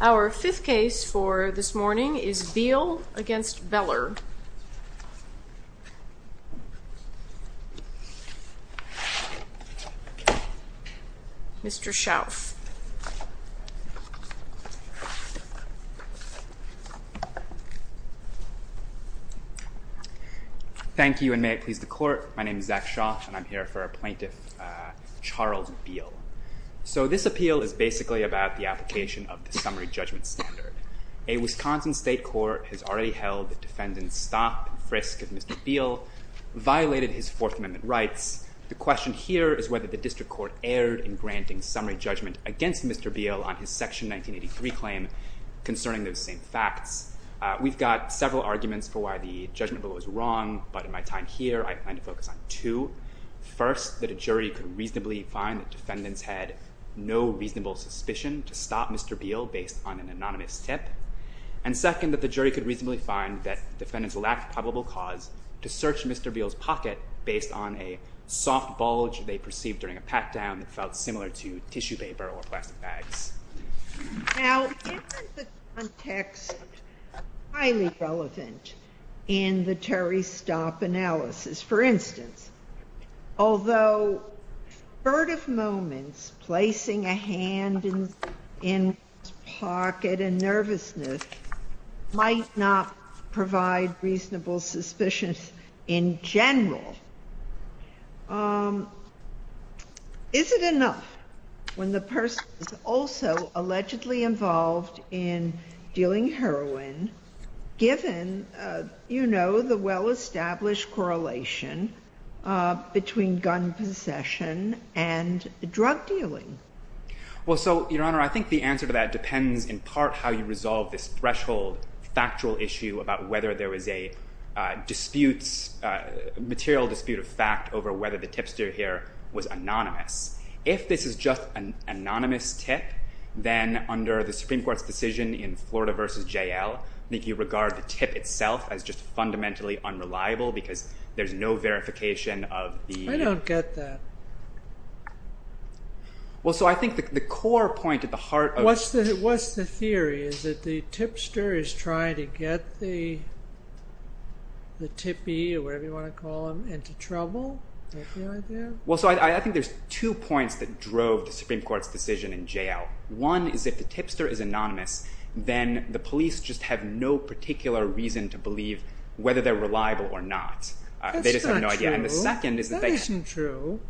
Our fifth case for this morning is Beal v. Beller, Mr. Shauf Thank you and may it please the court. My name is Zach Shauf and I'm here for a plaintiff, Charles Beal. So this appeal is basically about the application of the summary judgment standard. A Wisconsin state court has already held that defendants stopped and frisked if Mr. Beal violated his Fourth Amendment rights. The question here is whether the district court erred in granting summary judgment against Mr. Beal on his Section 1983 claim concerning those same facts. We've got several arguments for why the judgment bill was wrong, but in my time here, I plan to focus on two. First, that a jury could reasonably find that defendants had no reasonable suspicion to stop Mr. Beal based on an anonymous tip. And second, that the jury could reasonably find that defendants lacked probable cause to search Mr. Beal's pocket based on a soft bulge they perceived during a pat-down that felt similar to tissue paper or plastic bags. Now, isn't the context highly relevant in the Terry's stop analysis? For instance, although furtive moments, placing a hand in his pocket and nervousness might not provide reasonable suspicion in general, is it enough when the person is also allegedly involved in dealing heroin, given the well-established correlation between gun possession and drug dealing? Well, so, Your Honor, I think the answer to that depends in part how you resolve this threshold factual issue about whether there was a dispute, a material dispute of fact over whether the tipster here was anonymous. If this is just an anonymous tip, then under the Supreme Court's decision in Florida v. J.L., I think you regard the tip itself as just fundamentally unreliable because there's no verification of the… I don't get that. Well, so, I think the core point at the heart of… What's the theory? Is it the tipster is trying to get the tippy, or whatever you want to call him, into trouble? Is that the idea? Well, so, I think there's two points that drove the Supreme Court's decision in J.L. One is if the tipster is anonymous, then the police just have no particular reason to believe whether they're reliable or not. That's not true. That isn't true.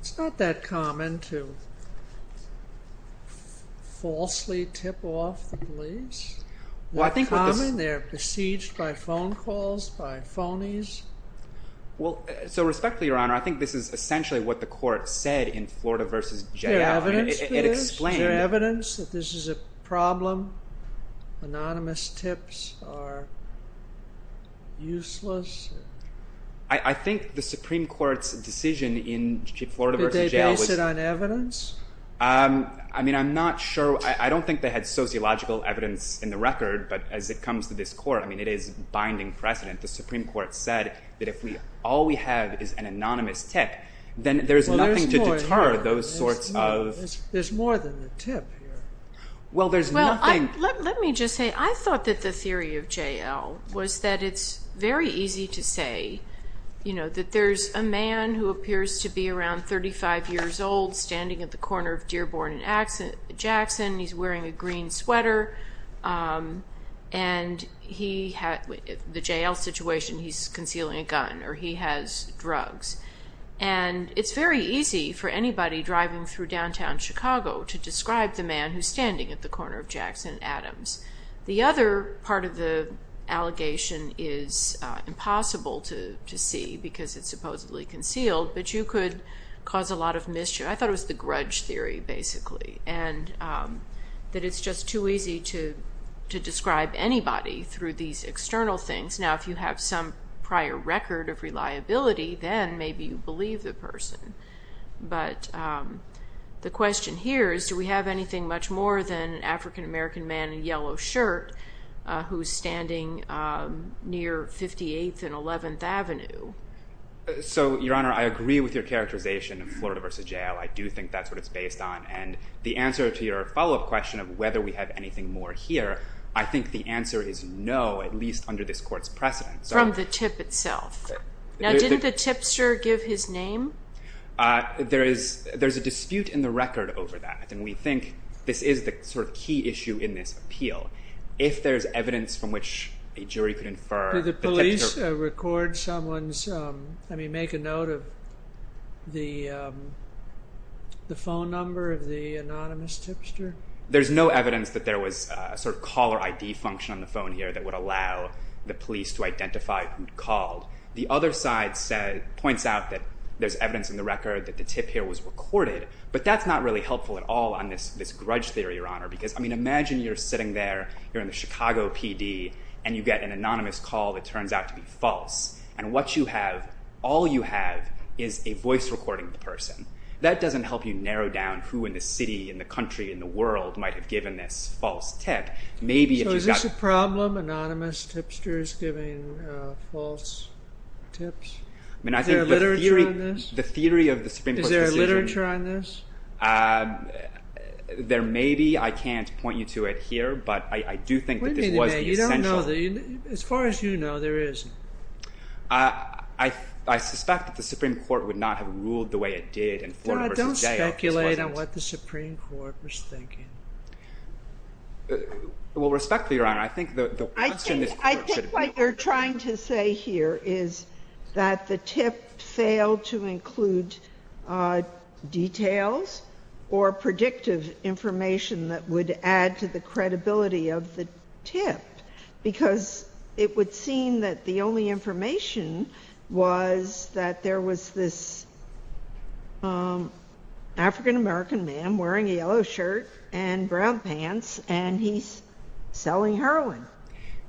It's not that common to falsely tip off the police. They're common. They're besieged by phone calls, by phonies. Well, so, respectfully, Your Honor, I think this is essentially what the court said in Florida v. J.L. Is there evidence for this? Is there evidence that this is a problem? Anonymous tips are useless? I think the Supreme Court's decision in Florida v. J.L. Did they base it on evidence? I mean, I'm not sure. I don't think they had sociological evidence in the record, but as it comes to this court, I mean, it is binding precedent. The Supreme Court said that if all we have is an anonymous tip, then there's nothing to deter those sorts of… There's more than the tip here. Well, there's nothing… Let me just say, I thought that the theory of J.L. was that it's very easy to say, you know, that there's a man who appears to be around 35 years old standing at the corner of Dearborn and Jackson. He's wearing a green sweater. And the J.L. situation, he's concealing a gun or he has drugs. And it's very easy for anybody driving through downtown Chicago to describe the man who's standing at the corner of Jackson and Adams. The other part of the allegation is impossible to see because it's supposedly concealed, but you could cause a lot of mischief. I thought it was the grudge theory, basically, and that it's just too easy to describe anybody through these external things. Now, if you have some prior record of reliability, then maybe you believe the person. But the question here is, do we have anything much more than an African-American man in a yellow shirt who's standing near 58th and 11th Avenue? So, Your Honor, I agree with your characterization of Florida v. J.L. I do think that's what it's based on. And the answer to your follow-up question of whether we have anything more here, I think the answer is no, at least under this court's precedent. From the tip itself. Now, didn't the tipster give his name? There's a dispute in the record over that. And we think this is the sort of key issue in this appeal. If there's evidence from which a jury could infer the tipster... Did the police record someone's, I mean, make a note of the phone number of the anonymous tipster? There's no evidence that there was a sort of caller ID function on the phone here that would allow the police to identify who called. The other side points out that there's evidence in the record that the tip here was recorded. But that's not really helpful at all on this grudge theory, Your Honor. Because, I mean, imagine you're sitting there, you're in the Chicago PD, and you get an anonymous call that turns out to be false. And what you have, all you have, is a voice recording of the person. That doesn't help you narrow down who in the city, in the country, in the world might have given this false tip. So is this a problem, anonymous tipsters giving false tips? Is there literature on this? Is there literature on this? There may be. I can't point you to it here. But I do think that this was the essential... As far as you know, there isn't. I suspect that the Supreme Court would not have ruled the way it did in Florida v. Jail if this wasn't... Don't speculate on what the Supreme Court was thinking. Well, respectfully, Your Honor, I think the question is... I think what you're trying to say here is that the tip failed to include details or predictive information that would add to the credibility of the tip. Because it would seem that the only information was that there was this African-American man wearing a yellow shirt and brown pants, and he's selling heroin.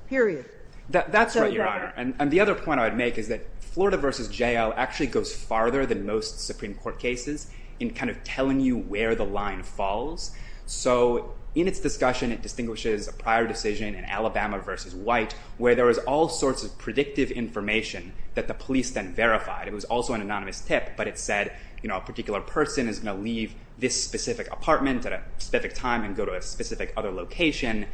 Period. That's right, Your Honor. And the other point I would make is that Florida v. Jail actually goes farther than most Supreme Court cases in kind of telling you where the line falls. So in its discussion, it distinguishes a prior decision in Alabama v. White where there was all sorts of predictive information that the police then verified. It was also an anonymous tip, but it said a particular person is going to leave this specific apartment at a specific time and go to a specific other location.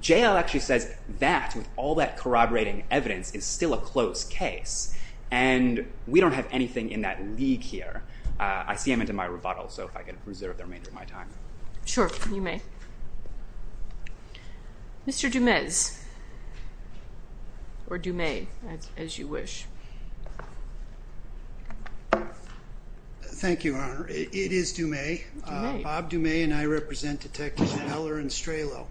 Jail actually says that, with all that corroborating evidence, is still a closed case. And we don't have anything in that league here. I see him into my rebuttal, so if I can reserve the remainder of my time. Sure, you may. Mr. Dumez, or Dumez, as you wish. Thank you, Your Honor. It is Dumez. Bob Dumez and I represent Detectives Miller and Strelow.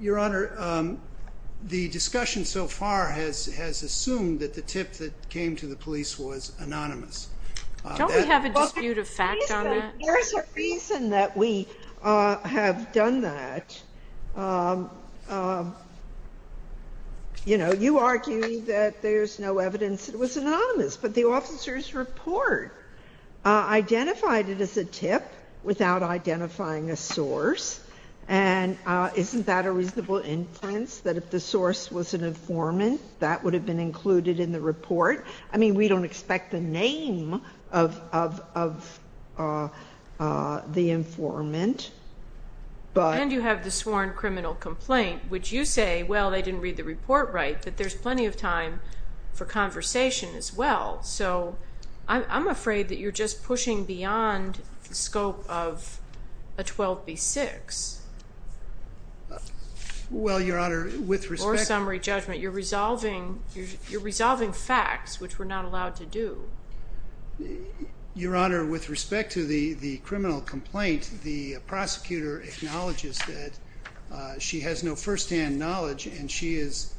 Your Honor, the discussion so far has assumed that the tip that came to the police was anonymous. Don't we have a dispute of fact on that? There's a reason that we have done that. You know, you argue that there's no evidence that it was anonymous, but the officer's report identified it as a tip without identifying a source. And isn't that a reasonable inference that if the source was an informant, that would have been included in the report? I mean, we don't expect the name of the informant. And you have the sworn criminal complaint, which you say, well, they didn't read the report right, that there's plenty of time for conversation as well. So I'm afraid that you're just pushing beyond the scope of a 12B6. Well, Your Honor, with respect to the criminal complaint, the prosecutor acknowledges that she has no firsthand knowledge, and she is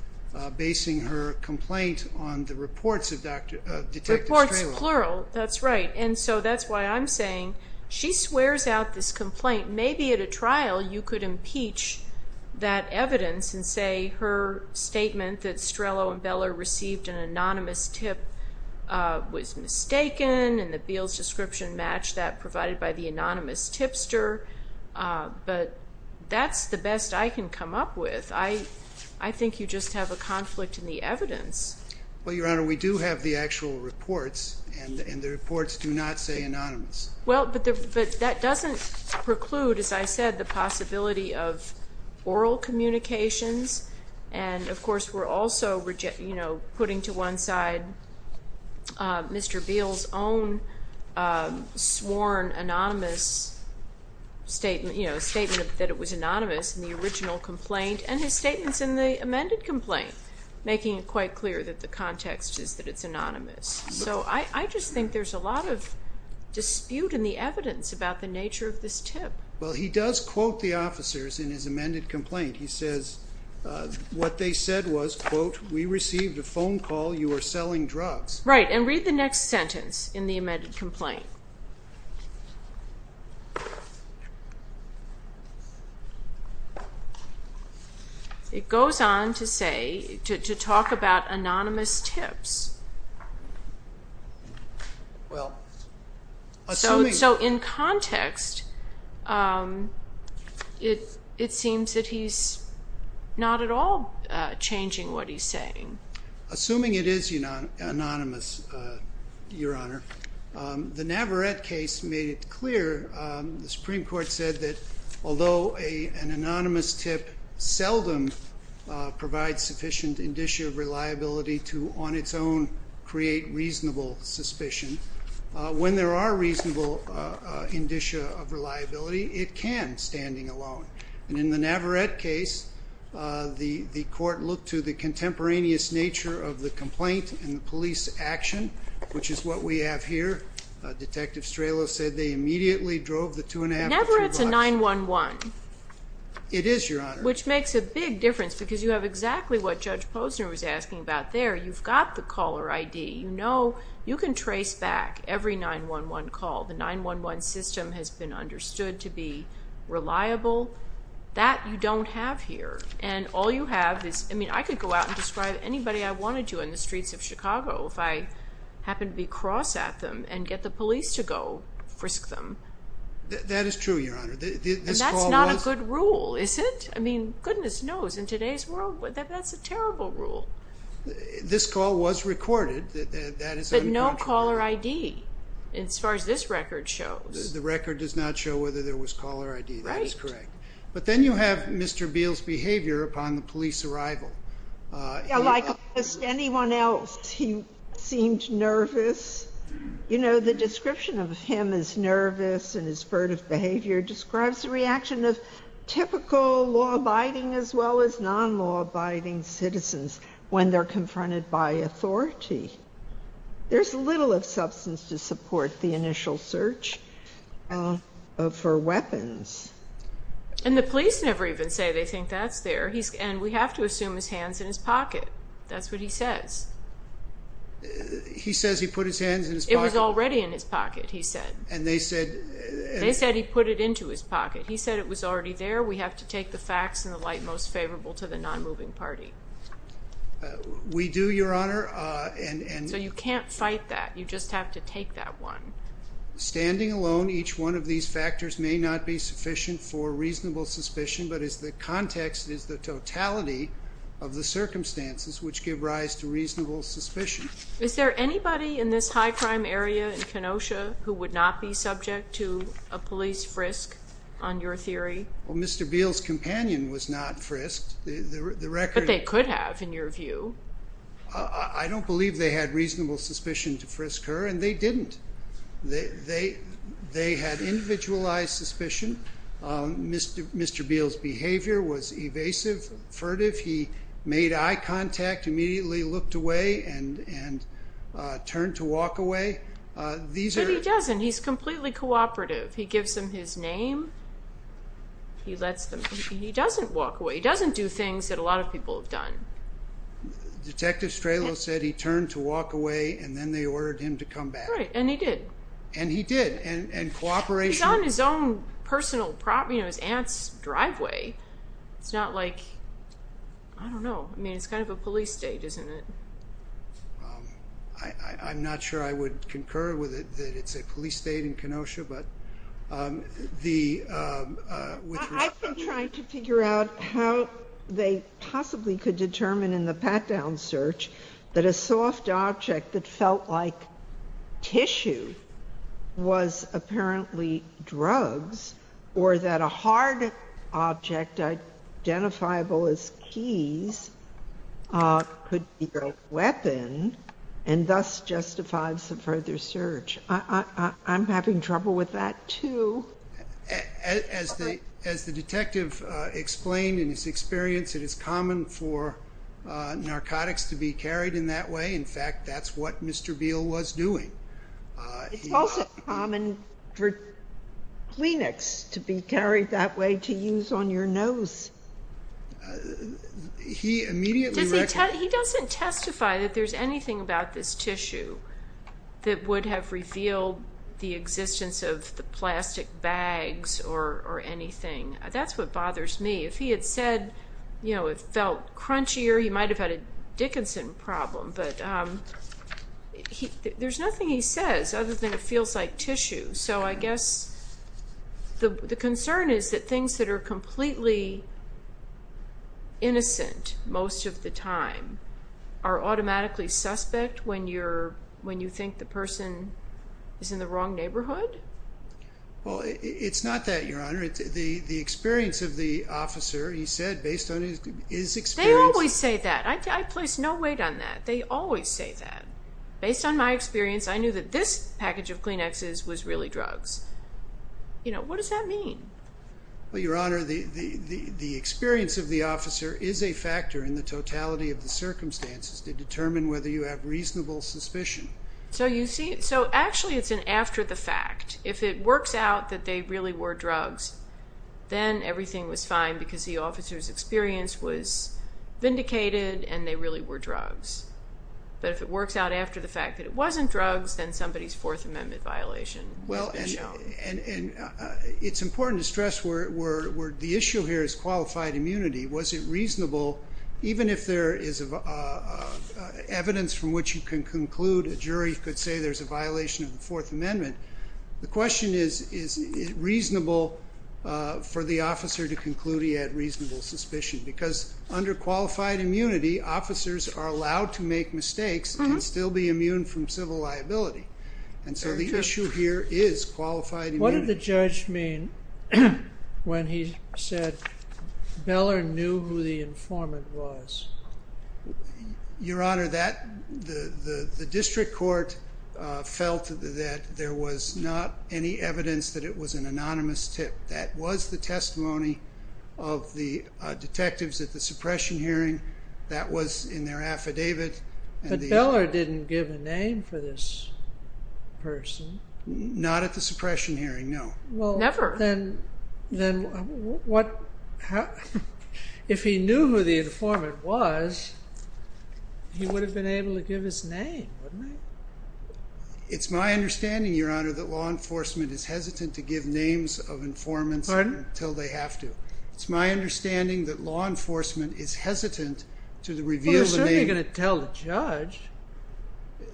basing her complaint on the reports of Detective Strelow. Reports, plural, that's right. And so that's why I'm saying she swears out this complaint. Maybe at a trial you could impeach that evidence and say her statement that Strelow and Beller received an anonymous tip was mistaken, and the Beals description matched that provided by the anonymous tipster. But that's the best I can come up with. I think you just have a conflict in the evidence. Well, Your Honor, we do have the actual reports, and the reports do not say anonymous. Well, but that doesn't preclude, as I said, the possibility of oral communications. And, of course, we're also putting to one side Mr. Beals' own sworn anonymous statement, a statement that it was anonymous in the original complaint and his statements in the amended complaint, making it quite clear that the context is that it's anonymous. So I just think there's a lot of dispute in the evidence about the nature of this tip. Well, he does quote the officers in his amended complaint. He says what they said was, quote, we received a phone call. You are selling drugs. Right, and read the next sentence in the amended complaint. It goes on to say, to talk about anonymous tips. Well, assuming. So in context, it seems that he's not at all changing what he's saying. Assuming it is anonymous, Your Honor. The Navarette case made it clear, the Supreme Court said that although an anonymous tip seldom provides sufficient indicia of reliability to, on its own, create reasonable suspicion, when there are reasonable indicia of reliability, it can standing alone. And in the Navarette case, the court looked to the contemporaneous nature of the complaint and the police action, which is what we have here. Detective Stralow said they immediately drove the two and a half to two blocks. Navarette's a 911. It is, Your Honor. Which makes a big difference because you have exactly what Judge Posner was asking about there. You've got the caller ID. You know you can trace back every 911 call. The 911 system has been understood to be reliable. That you don't have here. And all you have is, I mean, I could go out and describe anybody I wanted to in the streets of Chicago if I happened to be cross at them and get the police to go frisk them. That is true, Your Honor. And that's not a good rule, is it? I mean, goodness knows, in today's world, that's a terrible rule. This call was recorded. But no caller ID, as far as this record shows. The record does not show whether there was caller ID. That is correct. But then you have Mr. Beale's behavior upon the police arrival. Like almost anyone else, he seemed nervous. You know, the description of him as nervous and his furtive behavior describes the reaction of typical law-abiding as well as non-law-abiding citizens when they're confronted by authority. There's little of substance to support the initial search for weapons. And the police never even say they think that's there. And we have to assume his hand's in his pocket. That's what he says. He says he put his hand in his pocket. It was already in his pocket, he said. And they said? They said he put it into his pocket. He said it was already there. We have to take the facts in the light most favorable to the non-moving party. We do, Your Honor. So you can't fight that. You just have to take that one. Standing alone, each one of these factors may not be sufficient for reasonable suspicion, but it's the context, it's the totality of the circumstances which give rise to reasonable suspicion. Is there anybody in this high-crime area in Kenosha who would not be subject to a police frisk on your theory? Well, Mr. Beal's companion was not frisked. But they could have, in your view. I don't believe they had reasonable suspicion to frisk her, and they didn't. They had individualized suspicion. Mr. Beal's behavior was evasive, furtive. He made eye contact, immediately looked away, and turned to walk away. But he doesn't. He's completely cooperative. He gives them his name. He doesn't walk away. He doesn't do things that a lot of people have done. Detective Stralow said he turned to walk away, and then they ordered him to come back. Right, and he did. And he did. He's on his own personal property, his aunt's driveway. It's not like, I don't know. I mean, it's kind of a police state, isn't it? I'm not sure I would concur with it, that it's a police state in Kenosha. I've been trying to figure out how they possibly could determine in the pat-down search that a soft object that felt like tissue was apparently drugs, or that a hard object identifiable as keys could be a weapon, and thus justify some further search. I'm having trouble with that, too. As the detective explained in his experience, it is common for narcotics to be carried in that way. In fact, that's what Mr. Beal was doing. It's also common for Kleenex to be carried that way to use on your nose. He doesn't testify that there's anything about this tissue that would have revealed the existence of the plastic bags or anything. That's what bothers me. If he had said it felt crunchier, he might have had a Dickinson problem. But there's nothing he says other than it feels like tissue. So I guess the concern is that things that are completely innocent most of the time are automatically suspect when you think the person is in the wrong neighborhood? Well, it's not that, Your Honor. The experience of the officer, he said based on his experience. They always say that. I place no weight on that. They always say that. Based on my experience, I knew that this package of Kleenexes was really drugs. What does that mean? Well, Your Honor, the experience of the officer is a factor in the totality of the circumstances to determine whether you have reasonable suspicion. So actually it's an after the fact. If it works out that they really were drugs, then everything was fine because the officer's experience was vindicated and they really were drugs. But if it works out after the fact that it wasn't drugs, then somebody's Fourth Amendment violation has been shown. It's important to stress the issue here is qualified immunity. Was it reasonable, even if there is evidence from which you can conclude a jury could say there's a violation of the Fourth Amendment, the question is, is it reasonable for the officer to conclude he had reasonable suspicion? Because under qualified immunity, officers are allowed to make mistakes and still be immune from civil liability. And so the issue here is qualified immunity. What did the judge mean when he said Beller knew who the informant was? Your Honor, the district court felt that there was not any evidence that it was an anonymous tip. That was the testimony of the detectives at the suppression hearing. That was in their affidavit. But Beller didn't give a name for this person. Not at the suppression hearing, no. Never. Well, then, if he knew who the informant was, he would have been able to give his name, wouldn't he? It's my understanding, Your Honor, that law enforcement is hesitant to give names of informants until they have to. It's my understanding that law enforcement is hesitant to reveal the name. Well, they're certainly going to tell the judge.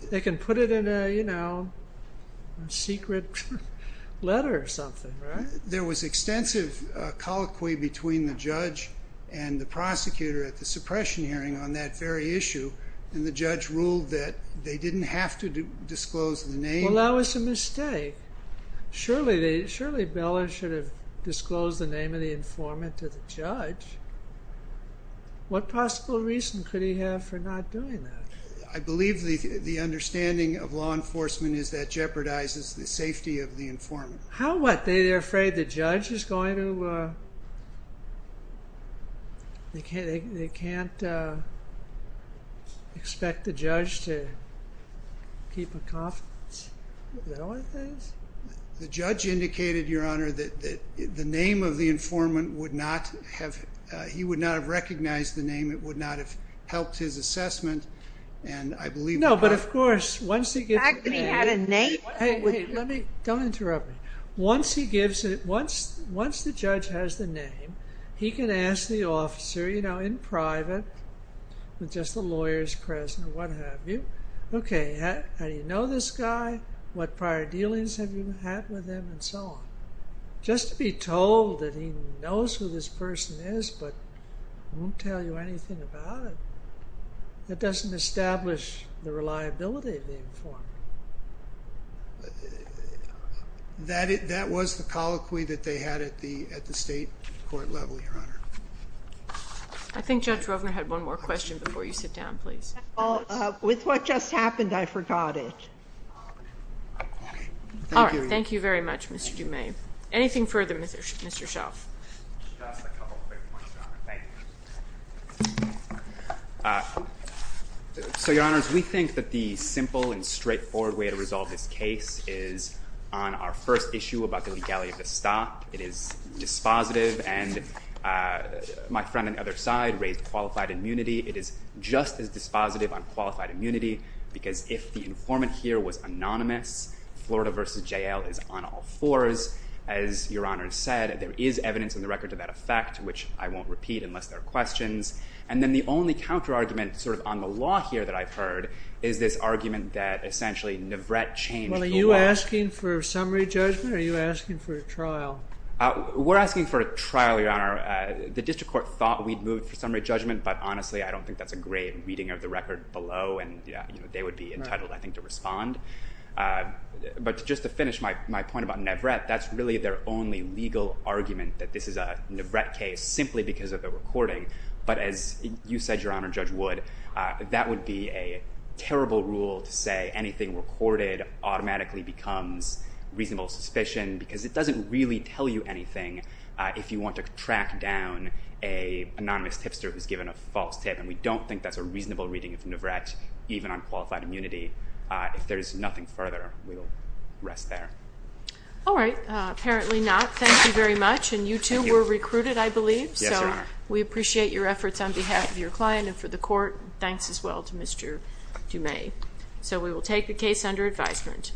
They can put it in a, you know, secret letter or something, right? There was extensive colloquy between the judge and the prosecutor at the suppression hearing on that very issue. And the judge ruled that they didn't have to disclose the name. Well, that was a mistake. Surely Beller should have disclosed the name of the informant to the judge. What possible reason could he have for not doing that? I believe the understanding of law enforcement is that it jeopardizes the safety of the informant. How what? They're afraid the judge is going to— they can't expect the judge to keep a confidence? Is that what it is? The judge indicated, Your Honor, that the name of the informant would not have— he would not have recognized the name. It would not have helped his assessment. And I believe— No, but of course, once he gets— He actually had a name? Let me—don't interrupt me. Once he gives it—once the judge has the name, he can ask the officer, you know, in private, with just a lawyer's present or what have you, okay, how do you know this guy? What prior dealings have you had with him? And so on. Just to be told that he knows who this person is but won't tell you anything about it, that doesn't establish the reliability of the informant. That was the colloquy that they had at the state court level, Your Honor. I think Judge Rovner had one more question before you sit down, please. With what just happened, I forgot it. All right. Thank you very much, Mr. Dume. Anything further, Mr. Shelf? Just a couple quick points, Your Honor. Thank you. So, Your Honors, we think that the simple and straightforward way to resolve this case is on our first issue about the legality of the stop. It is dispositive, and my friend on the other side raised qualified immunity. It is just as dispositive on qualified immunity because if the informant here was anonymous, Florida v. J.L. is on all fours. As Your Honor said, there is evidence in the record to that effect, which I won't repeat unless there are questions. And then the only counterargument sort of on the law here that I've heard is this argument that essentially Nivret changed the law. Well, are you asking for a summary judgment or are you asking for a trial? We're asking for a trial, Your Honor. The district court thought we'd move for summary judgment, but honestly, I don't think that's a great reading of the record below. And they would be entitled, I think, to respond. But just to finish my point about Nivret, that's really their only legal argument that this is a Nivret case simply because of the recording. But as you said, Your Honor, Judge Wood, that would be a terrible rule to say anything recorded automatically becomes reasonable suspicion because it doesn't really tell you anything if you want to track down an anonymous tipster who's given a false tip. And we don't think that's a reasonable reading of Nivret, even on qualified immunity. If there's nothing further, we'll rest there. All right. Apparently not. Thank you very much. And you two were recruited, I believe. Yes, Your Honor. We appreciate your efforts on behalf of your client and for the court. Thanks as well to Mr. Dumais. So we will take the case under advisement.